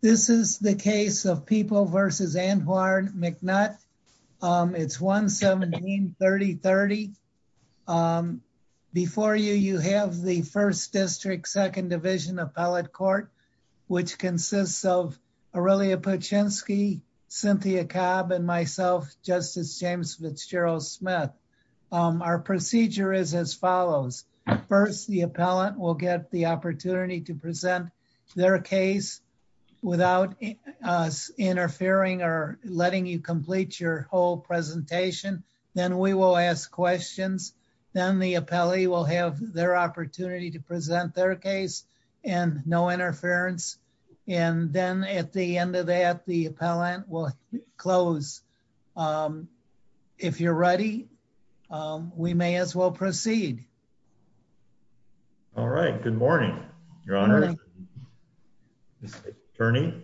This is the case of People v. Antoine McNutt. It's 1-17-3030. Before you, you have the 1st District 2nd Division Appellate Court, which consists of Aurelia Paczynski, Cynthia Cobb, and myself, Justice James Fitzgerald Smith. Our procedure is as follows. First, the appellant will get the opportunity to present their case without us interfering or letting you complete your whole presentation. Then we will ask questions. Then the appellee will have their opportunity to present their case and no interference. And then at the end of that, the appellant will close. If you're ready, we may as well proceed. All right. Good morning, Your Honor. Attorney,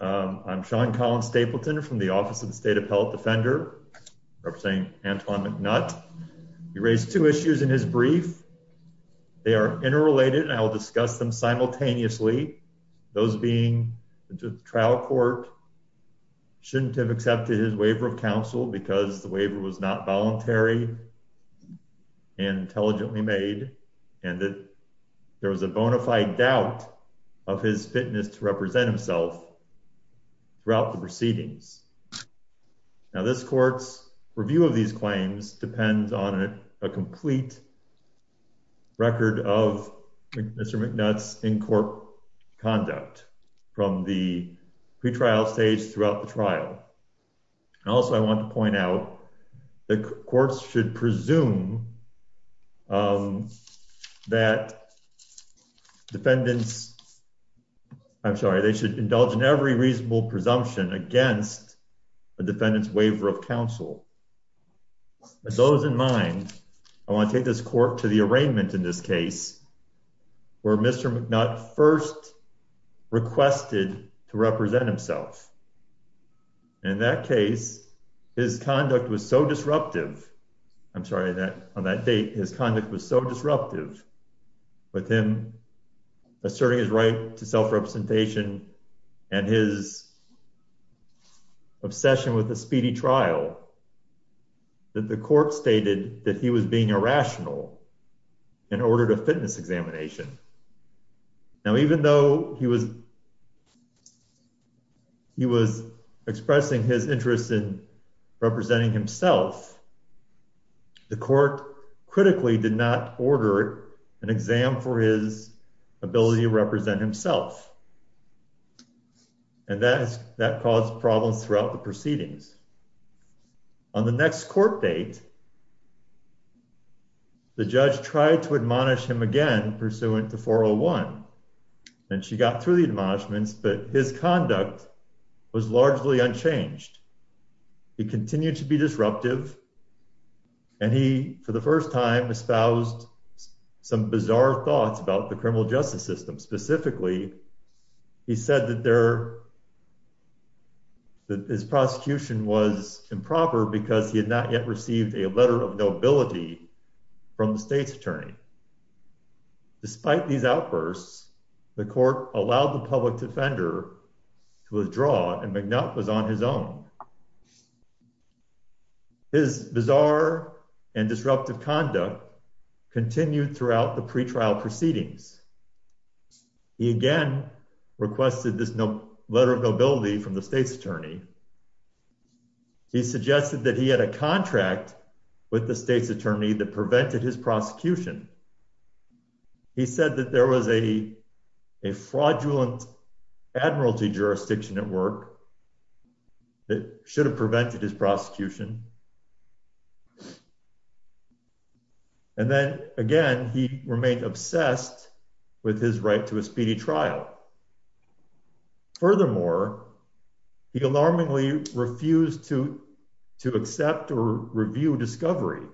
I'm Sean Colin Stapleton from the Office of the State Appellate Defender, representing Antoine McNutt. He raised two issues in his brief. They are interrelated and I will discuss them simultaneously. Those being the trial court shouldn't have accepted his waiver of counsel because the waiver was not voluntary and intelligently made and that there was a bona fide doubt of his fitness to represent himself throughout the proceedings. Now, this court's review of these claims depends on a complete record of Mr. McNutt's in-court conduct from the pretrial stage throughout the trial. Also, I want to point out that courts should presume that defendants, I'm sorry, they should indulge in every reasonable presumption against a defendant's waiver of counsel. With those in mind, I want to take this court to the arraignment in this case where Mr. McNutt first requested to represent himself. In that case, his conduct was so disruptive, I'm sorry, on that date, his conduct was so disruptive with him asserting his right to self-representation and his obsession with the speedy trial that the court stated that he was being irrational in order to fitness examination. Now, even though he was expressing his interest in representing himself, the court critically did not order an exam for his ability to represent himself and that caused problems throughout the proceedings. On the next court date, the judge tried to admonish him again pursuant to 401 and she got through the admonishments, but his conduct was largely unchanged. He continued to be disruptive and he, for the first time, espoused some bizarre thoughts about the criminal justice system. Specifically, he said that his prosecution was improper because he had not yet received a letter of nobility from the state's attorney. Despite these outbursts, the court allowed the public defender to withdraw and McNutt was on his own. His bizarre and disruptive conduct continued throughout the pretrial proceedings. He again requested this letter of nobility from the state's attorney. He suggested that he had a contract with the state's attorney that prevented his prosecution. He said that there was a fraudulent admiralty jurisdiction at work that should have prevented his prosecution. And then again, he remained obsessed with his right to a speedy trial. Furthermore, he alarmingly refused to accept or review discovery.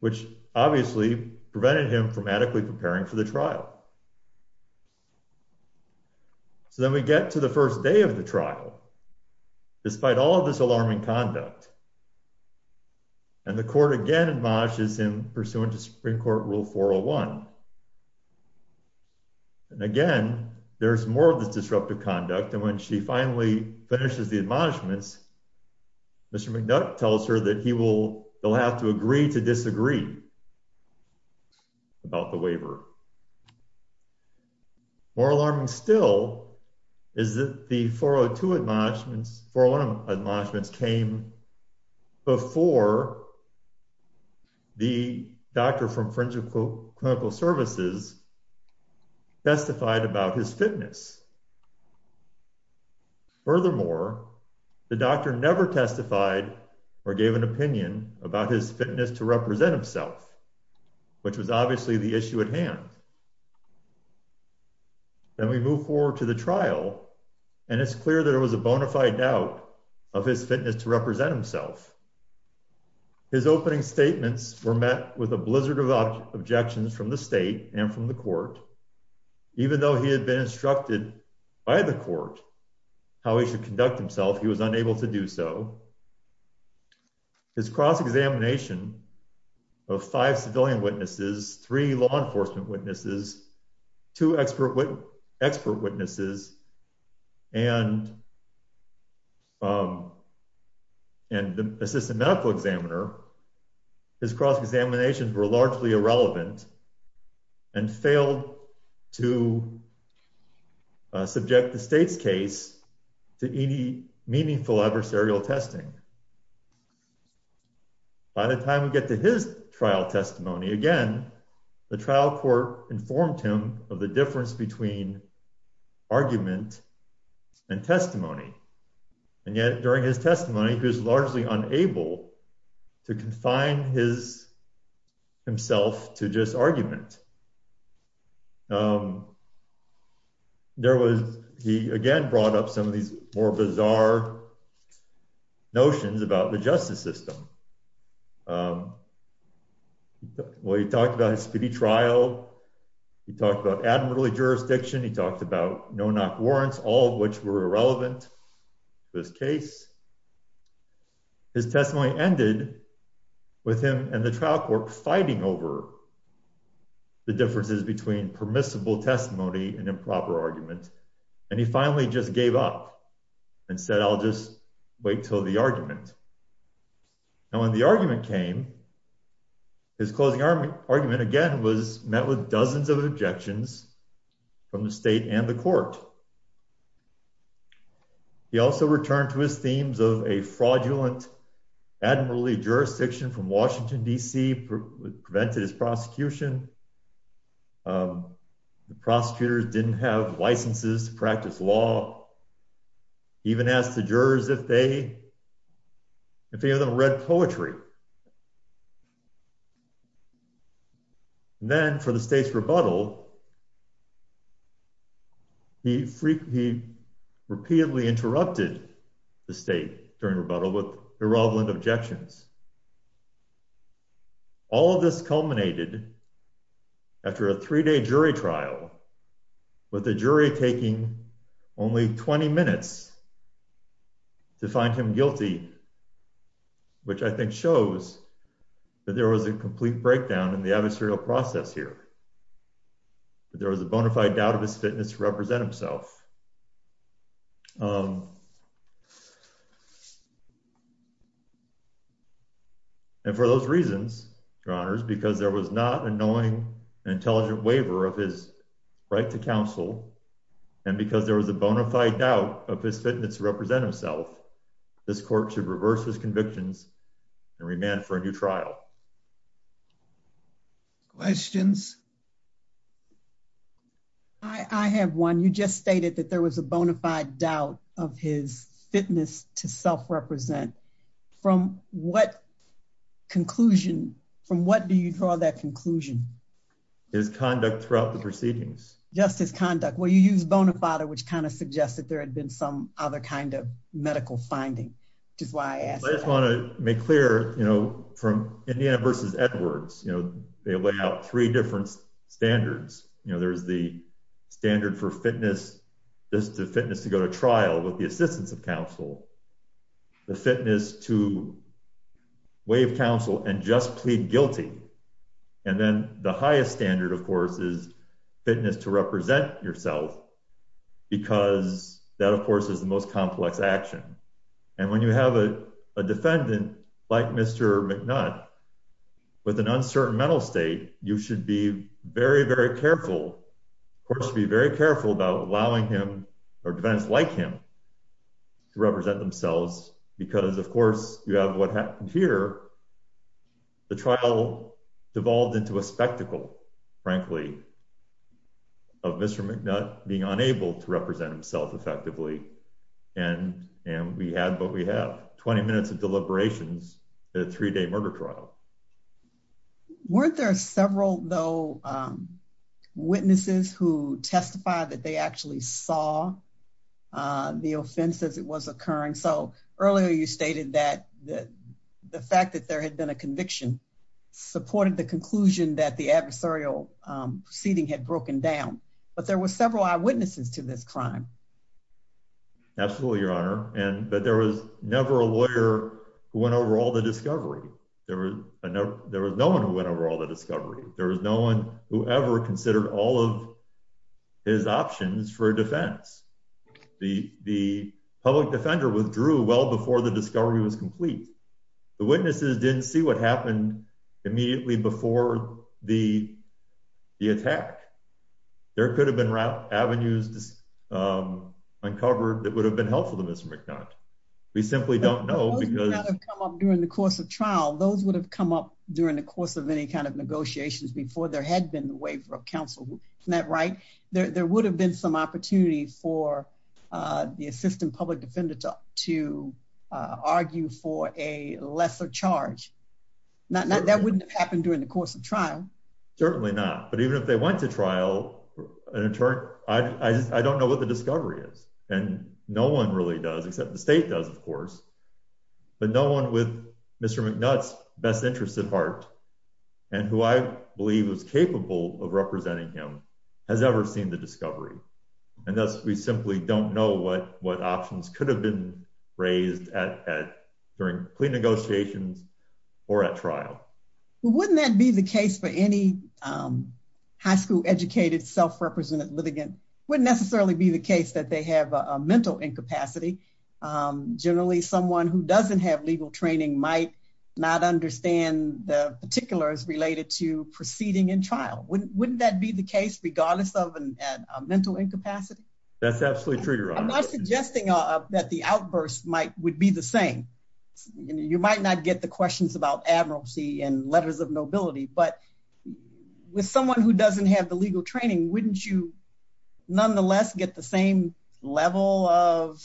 Which obviously prevented him from adequately preparing for the trial. So then we get to the first day of the trial. Despite all of this alarming conduct. And the court again admonishes him pursuant to Supreme Court Rule 401. And again, there's more of this disruptive conduct. And when she finally finishes the admonishments, Mr. McNutt tells her that he will have to agree to disagree about the waiver. More alarming still is that the 402 admonishments, 401 admonishments came before the doctor from Friendship Clinical Services testified about his fitness. Furthermore, the doctor never testified or gave an opinion about his fitness to represent himself. Which was obviously the issue at hand. Then we move forward to the trial. And it's clear that it was a bona fide doubt of his fitness to represent himself. His opening statements were met with a blizzard of objections from the state and from the court. Even though he had been instructed by the court how he should conduct himself, he was unable to do so. His cross-examination of five civilian witnesses, three law enforcement witnesses, two expert witnesses, and the assistant medical examiner. His cross-examinations were largely irrelevant and failed to subject the state's case to any meaningful adversarial testing. By the time we get to his trial testimony, again, the trial court informed him of the difference between argument and testimony. And yet, during his testimony, he was largely unable to confine himself to just argument. He again brought up some of these more bizarre notions about the justice system. Well, he talked about his speedy trial, he talked about admirably jurisdiction, he talked about no-knock warrants, all of which were irrelevant to this case. His testimony ended with him and the trial court fighting over the differences between permissible testimony and improper argument. And he finally just gave up and said, I'll just wait till the argument. And when the argument came, his closing argument, again, was met with dozens of objections from the state and the court. He also returned to his themes of a fraudulent, admirably jurisdiction from Washington, D.C., prevented his prosecution. The prosecutors didn't have licenses to practice law. He even asked the jurors if any of them read poetry. Then, for the state's rebuttal, he repeatedly interrupted the state during rebuttal with irrelevant objections. All of this culminated after a three-day jury trial, with the jury taking only 20 minutes to find him guilty, which I think shows that there was a complete breakdown in the adversarial process here. There was a bona fide doubt of his fitness to represent himself. And for those reasons, Your Honors, because there was not a knowing and intelligent waiver of his right to counsel, and because there was a bona fide doubt of his fitness to represent himself, this court should reverse his convictions and remand for a new trial. Questions? I have one. You just stated that there was a bona fide doubt of his fitness to self-represent. From what conclusion, from what do you draw that conclusion? His conduct throughout the proceedings. Just his conduct. Well, you used bona fide, which kind of suggests that there had been some other kind of medical finding, which is why I asked. I just want to make clear, from Indiana v. Edwards, they lay out three different standards. There's the standard for fitness to go to trial with the assistance of counsel. The fitness to waive counsel and just plead guilty. And then the highest standard, of course, is fitness to represent yourself, because that, of course, is the most complex action. And when you have a defendant like Mr. McNutt with an uncertain mental state, you should be very, very careful, of course, be very careful about allowing him or defendants like him to represent themselves, because, of course, you have what happened here. The trial devolved into a spectacle, frankly, of Mr. McNutt being unable to represent himself effectively. And we had what we had, 20 minutes of deliberations at a three-day murder trial. Weren't there several, though, witnesses who testified that they actually saw the offense as it was occurring? So earlier you stated that the fact that there had been a conviction supported the conclusion that the adversarial proceeding had broken down. But there were several eyewitnesses to this crime. Absolutely, Your Honor. But there was never a lawyer who went over all the discovery. There was no one who went over all the discovery. There was no one who ever considered all of his options for defense. The public defender withdrew well before the discovery was complete. The witnesses didn't see what happened immediately before the attack. There could have been avenues uncovered that would have been helpful to Mr. McNutt. We simply don't know because... There was no reason for the assistant public defender to argue for a lesser charge. That wouldn't have happened during the course of trial. Certainly not. But even if they went to trial, I don't know what the discovery is. And no one really does, except the state does, of course. But no one with Mr. McNutt's best interest at heart, and who I believe was capable of representing him, has ever seen the discovery. And thus, we simply don't know what options could have been raised during plea negotiations or at trial. Well, wouldn't that be the case for any high school educated, self-represented litigant? Wouldn't necessarily be the case that they have a mental incapacity. Generally, someone who doesn't have legal training might not understand the particulars related to proceeding in trial. Wouldn't that be the case, regardless of a mental incapacity? That's absolutely true, Your Honor. I'm not suggesting that the outburst would be the same. You might not get the questions about admiralty and letters of nobility. But with someone who doesn't have the legal training, wouldn't you nonetheless get the same level of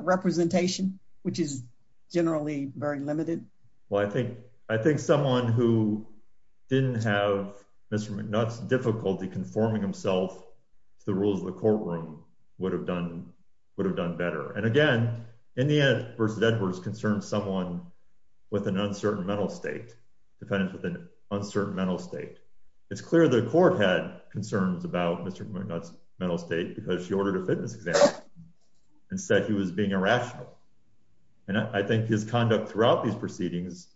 representation, which is generally very limited? Well, I think someone who didn't have Mr. McNutt's difficulty conforming himself to the rules of the courtroom would have done better. And again, Indiana v. Edwards concerns someone with an uncertain mental state. It's clear the court had concerns about Mr. McNutt's mental state because she ordered a fitness exam and said he was being irrational. And I think his conduct throughout these proceedings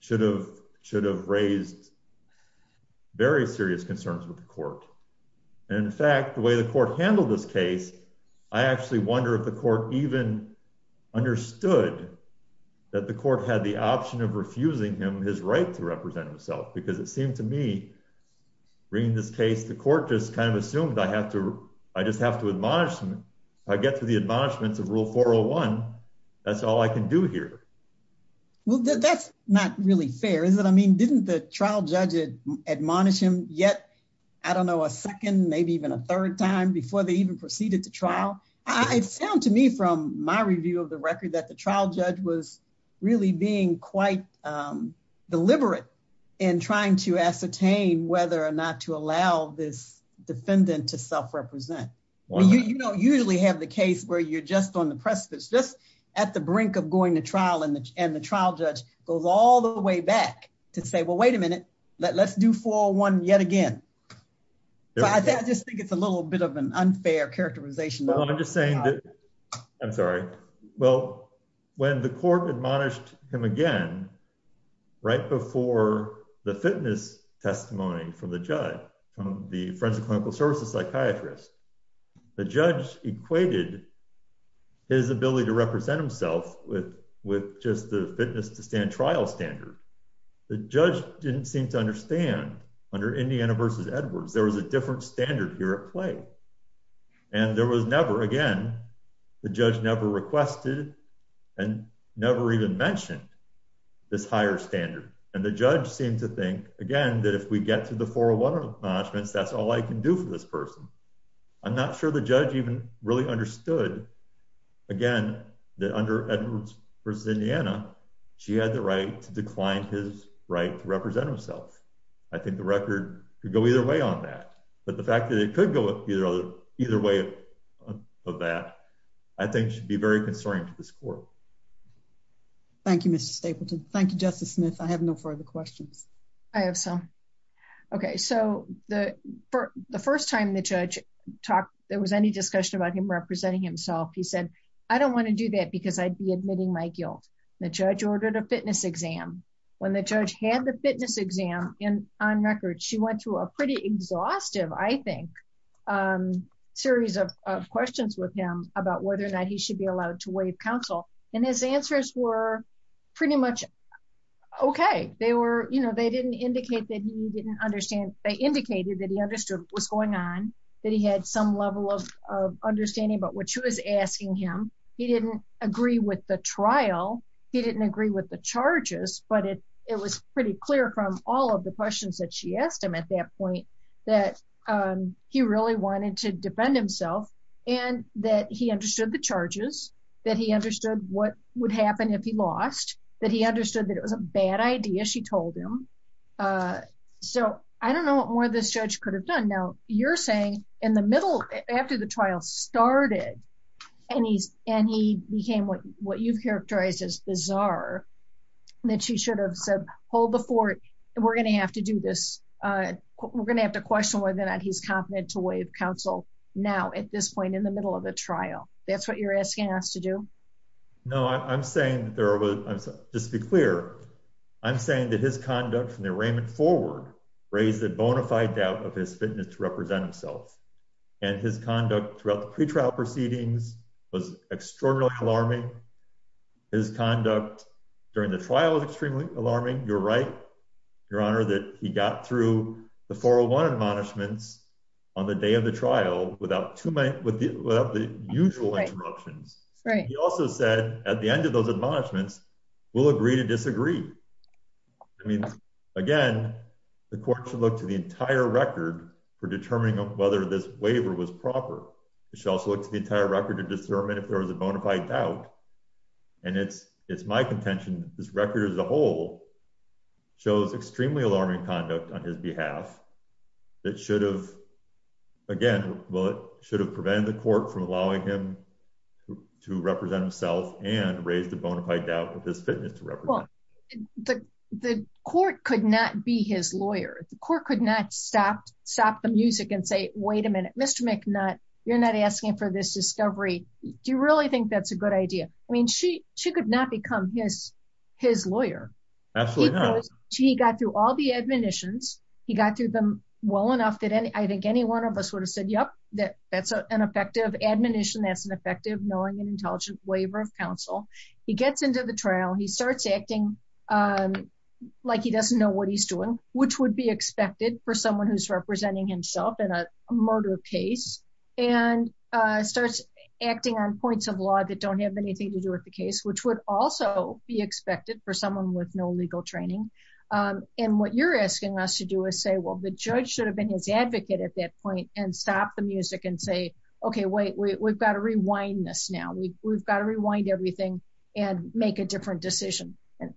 should have raised very serious concerns with the court. And in fact, the way the court handled this case, I actually wonder if the court even understood that the court had the option of refusing him his right to represent himself. Because it seemed to me, bringing this case, the court just kind of assumed I just have to admonish him. If I get through the admonishments of Rule 401, that's all I can do here. Well, that's not really fair, is it? I mean, didn't the trial judge admonish him yet? I don't know, a second, maybe even a third time before they even proceeded to trial? It sounds to me from my review of the record that the trial judge was really being quite deliberate in trying to ascertain whether or not to allow this defendant to self-represent. You don't usually have the case where you're just on the precipice, just at the brink of going to trial and the trial judge goes all the way back to say, well, wait a minute, let's do 401 yet again. I just think it's a little bit of an unfair characterization. I'm sorry. Well, when the court admonished him again, right before the fitness testimony from the judge, the forensic clinical services psychiatrist, the judge equated his ability to represent himself with just the fitness to stand trial standard. The judge didn't seem to understand under Indiana versus Edwards, there was a different standard here at play. And there was never, again, the judge never requested and never even mentioned this higher standard. And the judge seemed to think, again, that if we get to the 401 admonishments, that's all I can do for this person. I'm not sure the judge even really understood, again, that under Edwards versus Indiana, she had the right to decline his right to represent himself. I think the record could go either way on that. But the fact that it could go either way of that, I think should be very concerning to this court. Thank you, Mr. Stapleton. Thank you, Justice Smith. I have no further questions. I have some. Okay, so the first time the judge talked, there was any discussion about him representing himself, he said, I don't want to do that because I'd be admitting my guilt. The judge ordered a fitness exam. When the judge had the fitness exam on record, she went through a pretty exhaustive, I think, series of questions with him about whether or not he should be allowed to waive counsel. And his answers were pretty much okay. They didn't indicate that he didn't understand. They indicated that he understood what was going on, that he had some level of understanding about what she was asking him. He didn't agree with the trial. He didn't agree with the charges. But it was pretty clear from all of the questions that she asked him at that point that he really wanted to defend himself and that he understood the charges, that he understood what would happen if he lost, that he understood that it was a bad idea, she told him. So, I don't know what more this judge could have done. Now, you're saying, in the middle, after the trial started, and he became what you've characterized as bizarre, that she should have said, hold the fort. We're going to have to do this. We're going to have to question whether or not he's competent to waive counsel now at this point in the middle of the trial. That's what you're asking us to do? No, I'm saying, just to be clear, I'm saying that his conduct from the arraignment forward raised a bona fide doubt of his fitness to represent himself. And his conduct throughout the pretrial proceedings was extraordinarily alarming. His conduct during the trial was extremely alarming. You're right, Your Honor, that he got through the 401 admonishments on the day of the trial without the usual interruptions. He also said at the end of those admonishments, we'll agree to disagree. I mean, again, the court should look to the entire record for determining whether this waiver was proper. It should also look to the entire record to determine if there was a bona fide doubt. And it's my contention, this record as a whole, shows extremely alarming conduct on his behalf. That should have, again, should have prevented the court from allowing him to represent himself and raised a bona fide doubt of his fitness to represent himself. The court could not be his lawyer. The court could not stop the music and say, wait a minute, Mr. McNutt, you're not asking for this discovery. Do you really think that's a good idea? I mean, she could not become his lawyer. He got through all the admonitions. He got through them well enough that I think any one of us would have said, yep, that's an effective admonition, that's an effective knowing and intelligent waiver of counsel. He gets into the trial, he starts acting like he doesn't know what he's doing, which would be expected for someone who's representing himself in a murder case, and starts acting on points of law that don't have anything to do with the case, which would also be expected for someone with no legal training. And what you're asking us to do is say, well, the judge should have been his advocate at that point and stop the music and say, okay, wait, we've got to rewind this now. We've got to rewind everything and make a different decision. And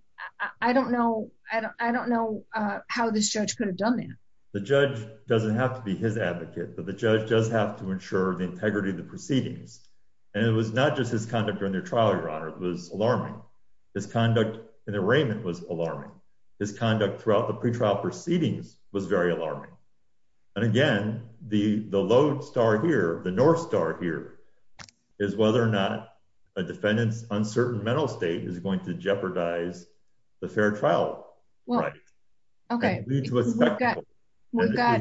I don't know, I don't know how this judge could have done that. The judge doesn't have to be his advocate, but the judge does have to ensure the integrity of the proceedings. And it was not just his conduct during the trial, Your Honor, it was alarming. His conduct in the arraignment was alarming. His conduct throughout the pretrial proceedings was very alarming. And again, the low star here, the north star here, is whether or not a defendant's uncertain mental state is going to jeopardize the fair trial. Okay. We've got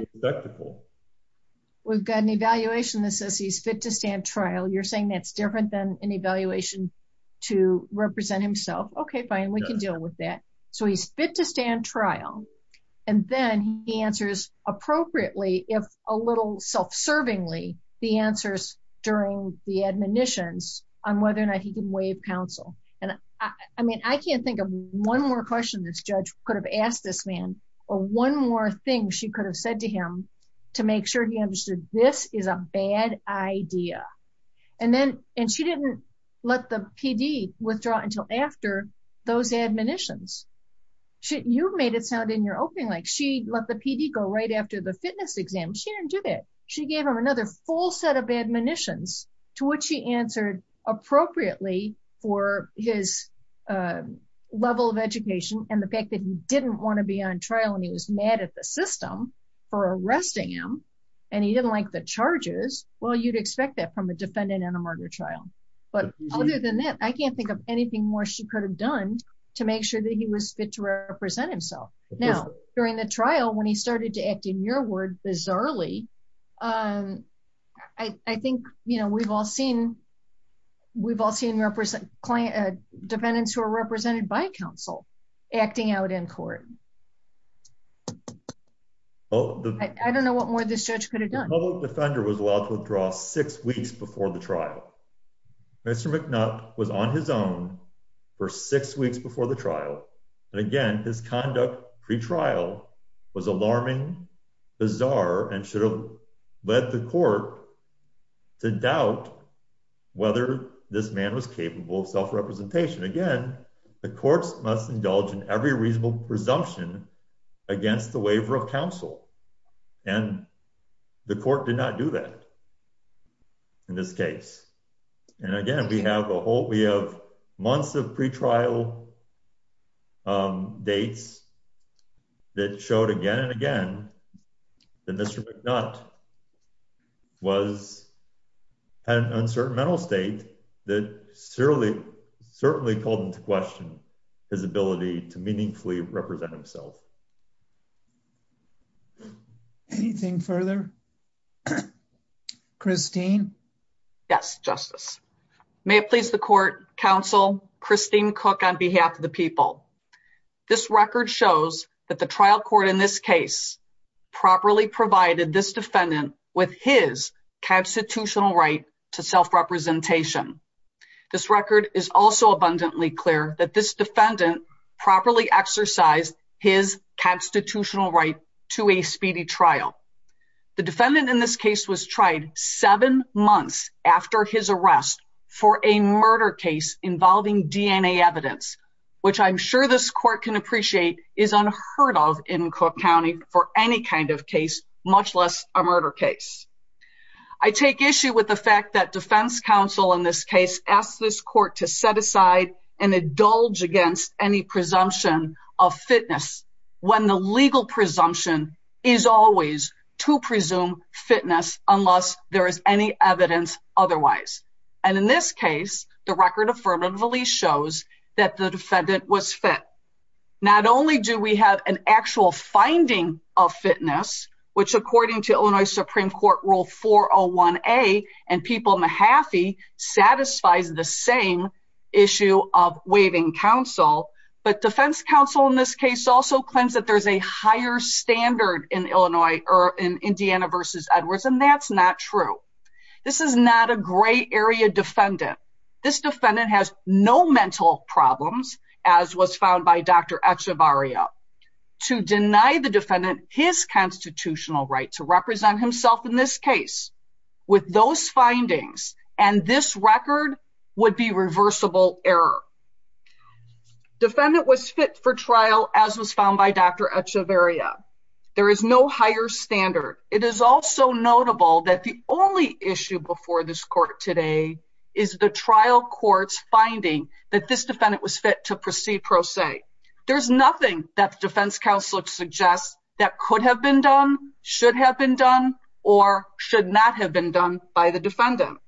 an evaluation that says he's fit to stand trial. You're saying that's different than an evaluation to represent himself. Okay, fine, we can deal with that. So he's fit to stand trial. And then he answers appropriately, if a little self-servingly, the answers during the admonitions on whether or not he can waive counsel. And I mean, I can't think of one more question this judge could have asked this man or one more thing she could have said to him to make sure he understood this is a bad idea. And she didn't let the PD withdraw until after those admonitions. You made it sound in your opening like she let the PD go right after the fitness exam. She didn't do that. She gave him another full set of admonitions to which he answered appropriately for his level of education and the fact that he didn't want to be on trial and he was mad at the system for arresting him. And he didn't like the charges. Well, you'd expect that from a defendant in a murder trial. But other than that, I can't think of anything more she could have done to make sure that he was fit to represent himself. Now, during the trial when he started to act in your word, bizarrely, I think, you know, we've all seen, we've all seen clients, defendants who are represented by counsel acting out in court. Oh, I don't know what more this judge could have done. against the waiver of counsel. And the court did not do that. In this case, and again, we have a whole we have months of pretrial dates that showed again and again, that Mr. McNutt was an uncertain mental state that certainly, certainly called into question his ability to meaningfully represent himself. Anything further? Christine. Yes, Justice. May it please the court counsel Christine cook on behalf of the people. This record shows that the trial court in this case, properly provided this defendant with his constitutional right to self representation. This record is also abundantly clear that this defendant properly exercise his constitutional right to a speedy trial. The defendant in this case was tried seven months after his arrest for a murder case involving DNA evidence, which I'm sure this court can appreciate is unheard of in Cook County for any kind of case, much less a murder case. I take issue with the fact that defense counsel in this case asked this court to set aside and indulge against any presumption of fitness when the legal presumption is always to presume fitness unless there is any evidence otherwise. And in this case, the record affirmatively shows that the defendant was fit. Not only do we have an actual finding of fitness, which according to Illinois Supreme Court rule 401A and people Mahaffey satisfies the same issue of waiving counsel. But defense counsel in this case also claims that there's a higher standard in Illinois or in Indiana versus Edwards and that's not true. This is not a gray area defendant. This defendant has no mental problems as was found by Dr. Echevarria. To deny the defendant his constitutional right to represent himself in this case with those findings and this record would be reversible error. Defendant was fit for trial as was found by Dr. Echevarria. There is no higher standard. It is also notable that the only issue before this court today is the trial courts finding that this defendant was fit to proceed pro se. There's nothing that the defense counselor suggests that could have been done, should have been done, or should not have been done by the defendant.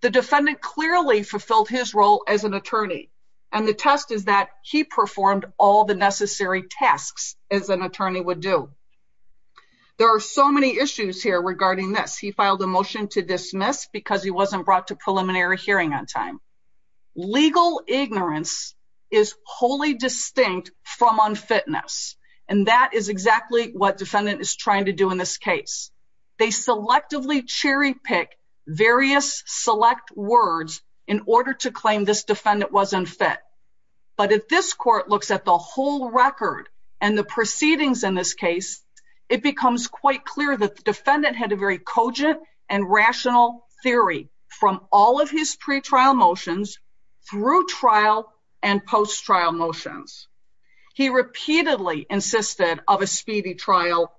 The defendant clearly fulfilled his role as an attorney and the test is that he performed all the necessary tasks as an attorney would do. There are so many issues here regarding this. He filed a motion to dismiss because he wasn't brought to preliminary hearing on time. Legal ignorance is wholly distinct from unfitness and that is exactly what defendant is trying to do in this case. They selectively cherry pick various select words in order to claim this defendant was unfit. But if this court looks at the whole record and the proceedings in this case, it becomes quite clear that the defendant had a very cogent and rational theory from all of his pre-trial motions through trial and post-trial motions. He repeatedly insisted of a speedy trial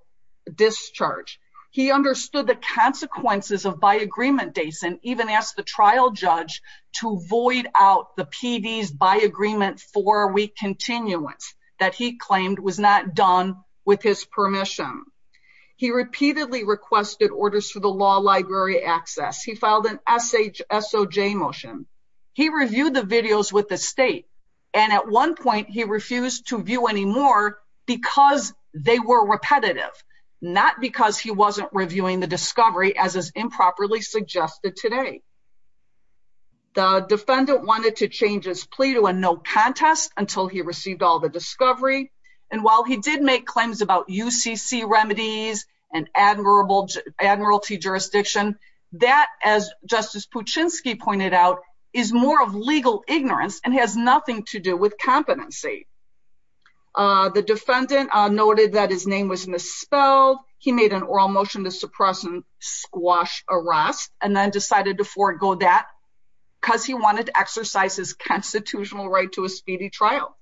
discharge. He understood the consequences of by-agreement dates and even asked the trial judge to void out the PD's by-agreement four-week continuance that he claimed was not done with his permission. He repeatedly requested orders for the law library access. He filed an SHSOJ motion. He reviewed the videos with the state and at one point he refused to view any more because they were repetitive, not because he wasn't reviewing the discovery as is improperly suggested today. The defendant wanted to change his plea to a no contest until he received all the discovery and while he did make claims about UCC remedies and admiralty jurisdiction, that, as Justice Puchinsky pointed out, is more of legal ignorance and has nothing to do with competency. The defendant noted that his name was misspelled. He made an oral motion to suppress and squash a rasp and then decided to forego that because he wanted to exercise his constitutional right to a speedy trial.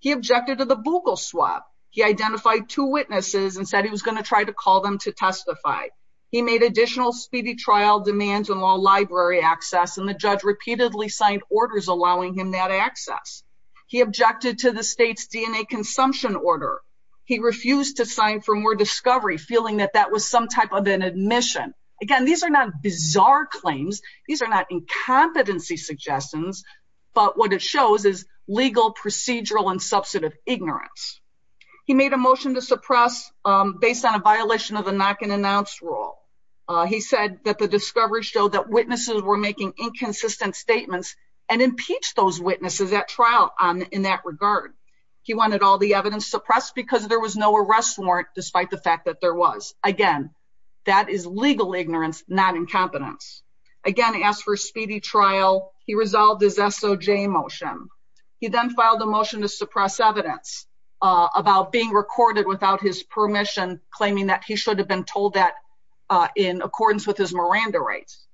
He objected to the bugle swab. He identified two witnesses and said he was going to try to call them to testify. He made additional speedy trial demands and law library access and the judge repeatedly signed orders allowing him that access. He objected to the state's DNA consumption order. He refused to sign for more discovery feeling that that was some type of an admission. Again, these are not bizarre claims. These are not incompetency suggestions, but what it shows is legal procedural and substantive ignorance. He made a motion to suppress based on a violation of the knock-and-announce rule. He said that the discovery showed that witnesses were making inconsistent statements and impeached those witnesses at trial in that regard. He wanted all the evidence suppressed because there was no arrest warrant despite the fact that there was. Again, that is legal ignorance, not incompetence. Again, he asked for a speedy trial. He resolved his SOJ motion. He then filed a motion to suppress evidence about being recorded without his permission, claiming that he should have been told that in accordance with his Miranda rights.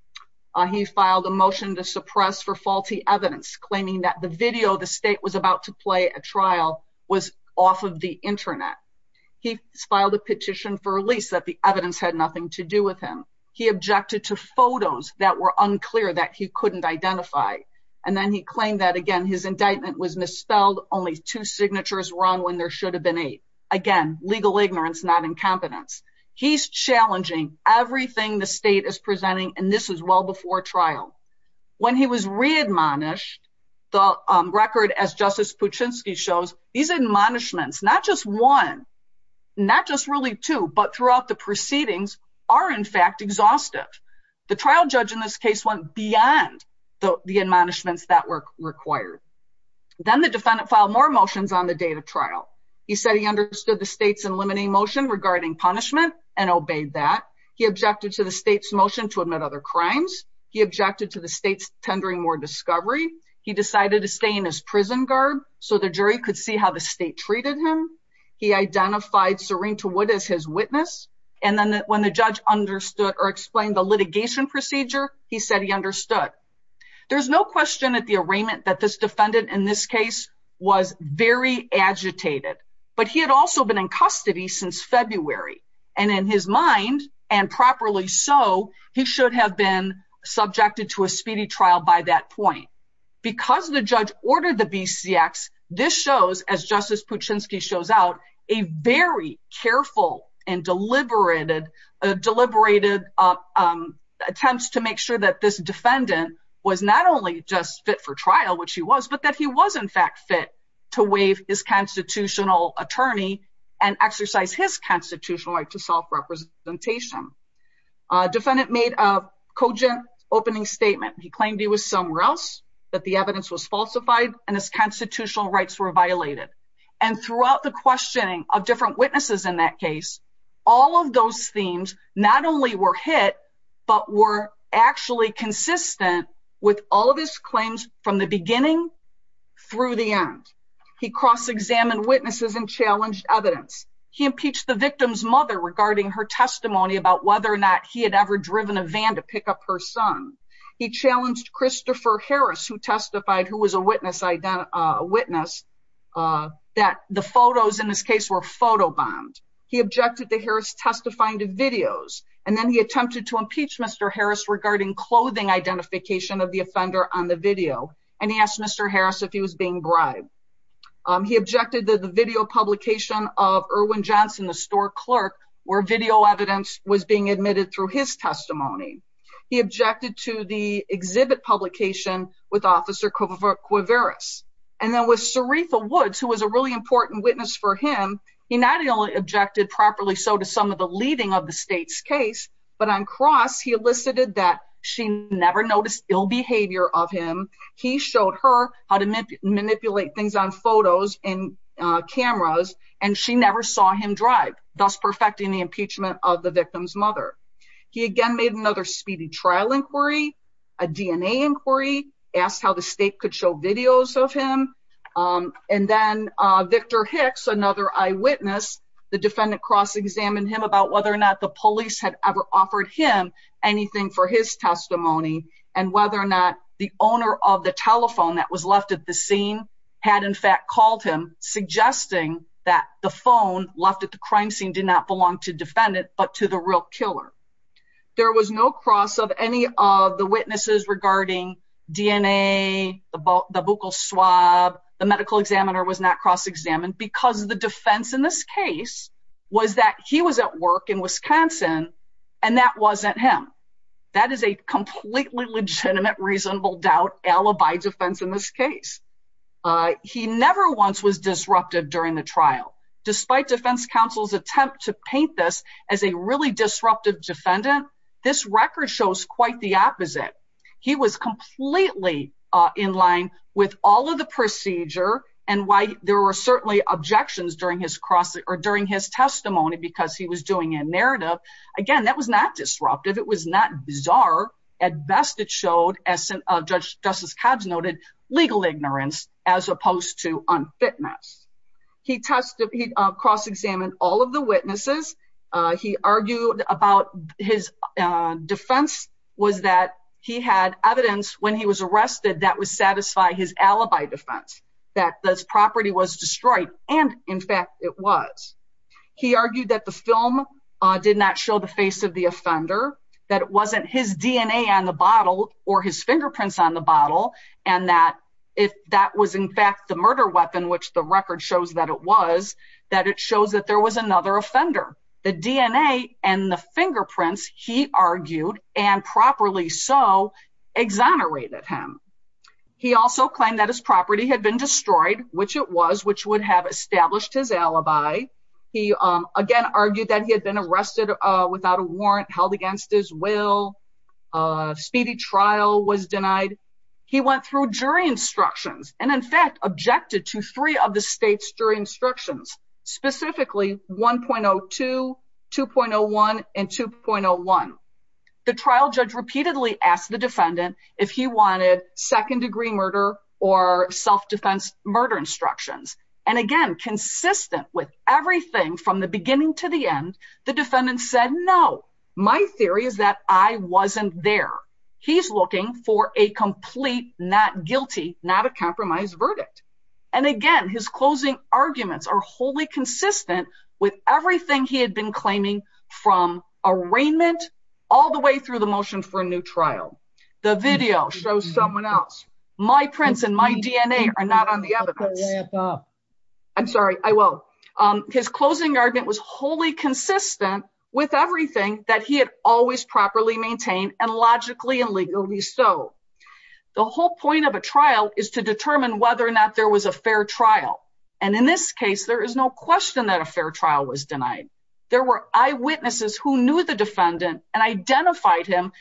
He filed a motion to suppress for faulty evidence, claiming that the video the state was about to play at trial was off of the internet. He filed a petition for release that the evidence had nothing to do with him. He objected to photos that were unclear that he couldn't identify. And then he claimed that, again, his indictment was misspelled, only two signatures wrong when there should have been eight. Again, legal ignorance, not incompetence. He's challenging everything the state is presenting, and this is well before trial. When he was readmonished, the record, as Justice Puchinsky shows, these admonishments, not just one, not just really two, but throughout the proceedings, are in fact exhaustive. The trial judge in this case went beyond the admonishments that were required. Then the defendant filed more motions on the date of trial. He said he understood the state's limiting motion regarding punishment and obeyed that. He objected to the state's motion to admit other crimes. He objected to the state's tendering more discovery. He decided to stay in his prison guard so the jury could see how the state treated him. He identified Serena Wood as his witness. And then when the judge understood or explained the litigation procedure, he said he understood. There's no question at the arraignment that this defendant in this case was very agitated, but he had also been in custody since February. And in his mind, and properly so, he should have been subjected to a speedy trial by that point. Because the judge ordered the BCX, this shows, as Justice Puchinsky shows out, a very careful and deliberated attempts to make sure that this defendant was not only just fit for trial, which he was, but that he was in fact fit to waive his constitutional attorney and exercise his constitutional right. A defendant made a cogent opening statement. He claimed he was somewhere else, that the evidence was falsified, and his constitutional rights were violated. And throughout the questioning of different witnesses in that case, all of those themes not only were hit, but were actually consistent with all of his claims from the beginning through the end. He cross-examined witnesses and challenged evidence. He impeached the victim's mother regarding her testimony about whether or not he had ever driven a van to pick up her son. He challenged Christopher Harris, who testified, who was a witness, that the photos in this case were photobombed. He objected to Harris testifying to videos. And then he attempted to impeach Mr. Harris regarding clothing identification of the offender on the video. And he asked Mr. Harris if he was being bribed. He objected to the video publication of Erwin Johnson, the store clerk, where video evidence was being admitted through his testimony. He objected to the exhibit publication with Officer Cuevarris. And then with Saritha Woods, who was a really important witness for him, he not only objected properly so to some of the leading of the state's case, but on cross, he elicited that she never noticed ill behavior of him. He showed her how to manipulate things on photos and cameras, and she never saw him drive, thus perfecting the impeachment of the victim's mother. He again made another speedy trial inquiry, a DNA inquiry, asked how the state could show videos of him. And then Victor Hicks, another eyewitness, the defendant cross-examined him about whether or not the police had ever offered him anything for his testimony, and whether or not the owner of the telephone that was left at the scene had in fact called him, suggesting that the phone left at the crime scene did not belong to the defendant, but to the real killer. There was no cross of any of the witnesses regarding DNA, the buccal swab, the medical examiner was not cross-examined, because the defense in this case was that he was at work in Wisconsin, and that wasn't him. That is a completely legitimate, reasonable doubt, alibi defense in this case. He never once was disruptive during the trial. Despite defense counsel's attempt to paint this as a really disruptive defendant, this record shows quite the opposite. He was completely in line with all of the procedure, and while there were certainly objections during his cross, or during his testimony, because he was doing a narrative, again, that was not disruptive, it was not bizarre. At best, it showed, as Judge Justice Cobbs noted, legal ignorance, as opposed to unfitness. He cross-examined all of the witnesses, he argued about his defense was that he had evidence when he was arrested that would satisfy his alibi defense, that this property was destroyed, and in fact, it was. He argued that the film did not show the face of the offender, that it wasn't his DNA on the bottle, or his fingerprints on the bottle, and that if that was in fact the murder weapon, which the record shows that it was, that it shows that there was another offender. The DNA and the fingerprints, he argued, and properly so, exonerated him. He also claimed that his property had been destroyed, which it was, which would have established his alibi. He, again, argued that he had been arrested without a warrant, held against his will. A speedy trial was denied. He went through jury instructions, and in fact, objected to three of the state's jury instructions, specifically 1.02, 2.01, and 2.01. The trial judge repeatedly asked the defendant if he wanted second-degree murder or self-defense murder instructions. And again, consistent with everything from the beginning to the end, the defendant said, no, my theory is that I wasn't there. He's looking for a complete, not guilty, not a compromised verdict. And again, his closing arguments are wholly consistent with everything he had been claiming from arraignment all the way through the motion for a new trial. The video shows someone else. My prints and my DNA are not on the evidence. I'm sorry, I will. His closing argument was wholly consistent with everything that he had always properly maintained, and logically and legally so. The whole point of a trial is to determine whether or not there was a fair trial. And in this case, there is no question that a fair trial was denied. There were eyewitnesses who knew the defendant and identified him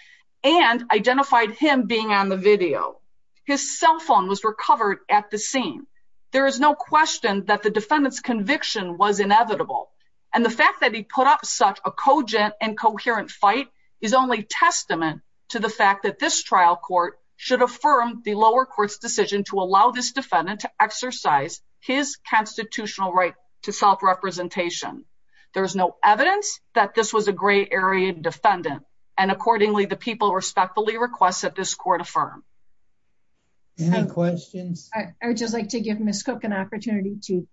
and identified him being on the video. His cell phone was recovered at the scene. There is no question that the defendant's conviction was inevitable. And the fact that he put up such a cogent and coherent fight is only testament to the fact that this trial court should affirm the lower court's decision to allow this defendant to exercise his constitutional right to self-representation. There is no evidence that this was a gray-area defendant. And accordingly, the people respectfully request that this court affirm. Any questions? I would just like to give Ms. Cook an opportunity to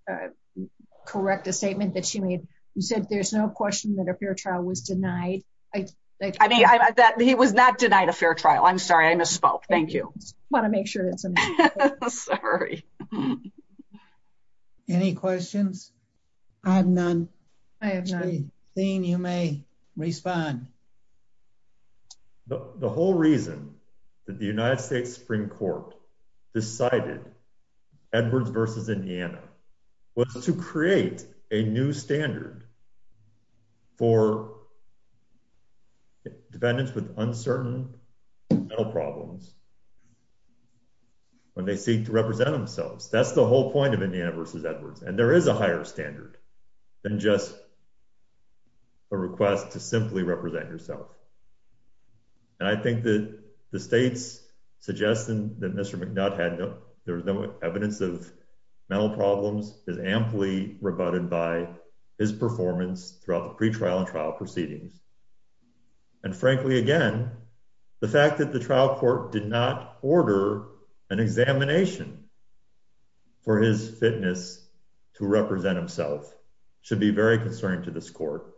correct a statement that she made. You said there's no question that a fair trial was denied. I mean, he was not denied a fair trial. I'm sorry, I misspoke. Thank you. I want to make sure that's in there. Sorry. Any questions? I have none. I have none. Jean, you may respond. The whole reason that the United States Supreme Court decided Edwards v. Indiana was to create a new standard for defendants with uncertain mental problems when they seek to represent themselves. That's the whole point of Indiana v. Edwards. And there is a higher standard than just a request to simply represent yourself. And I think that the state's suggestion that Mr. McNutt had no evidence of mental problems is amply rebutted by his performance throughout the pretrial and trial proceedings. And frankly, again, the fact that the trial court did not order an examination for his fitness to represent himself should be very concerning to this court.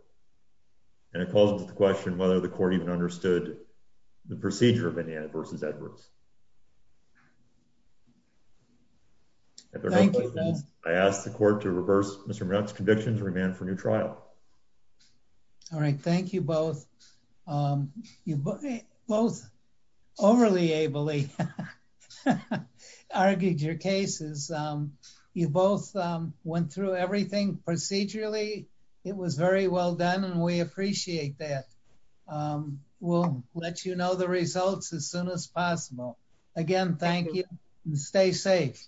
And it calls into question whether the court even understood the procedure of Indiana v. Edwards. I ask the court to reverse Mr. McNutt's conviction to remand for new trial. All right. Thank you both. You both overly ably argued your cases. You both went through everything procedurally. It was very well done, and we appreciate that. We'll let you know the results as soon as possible. Again, thank you. Stay safe.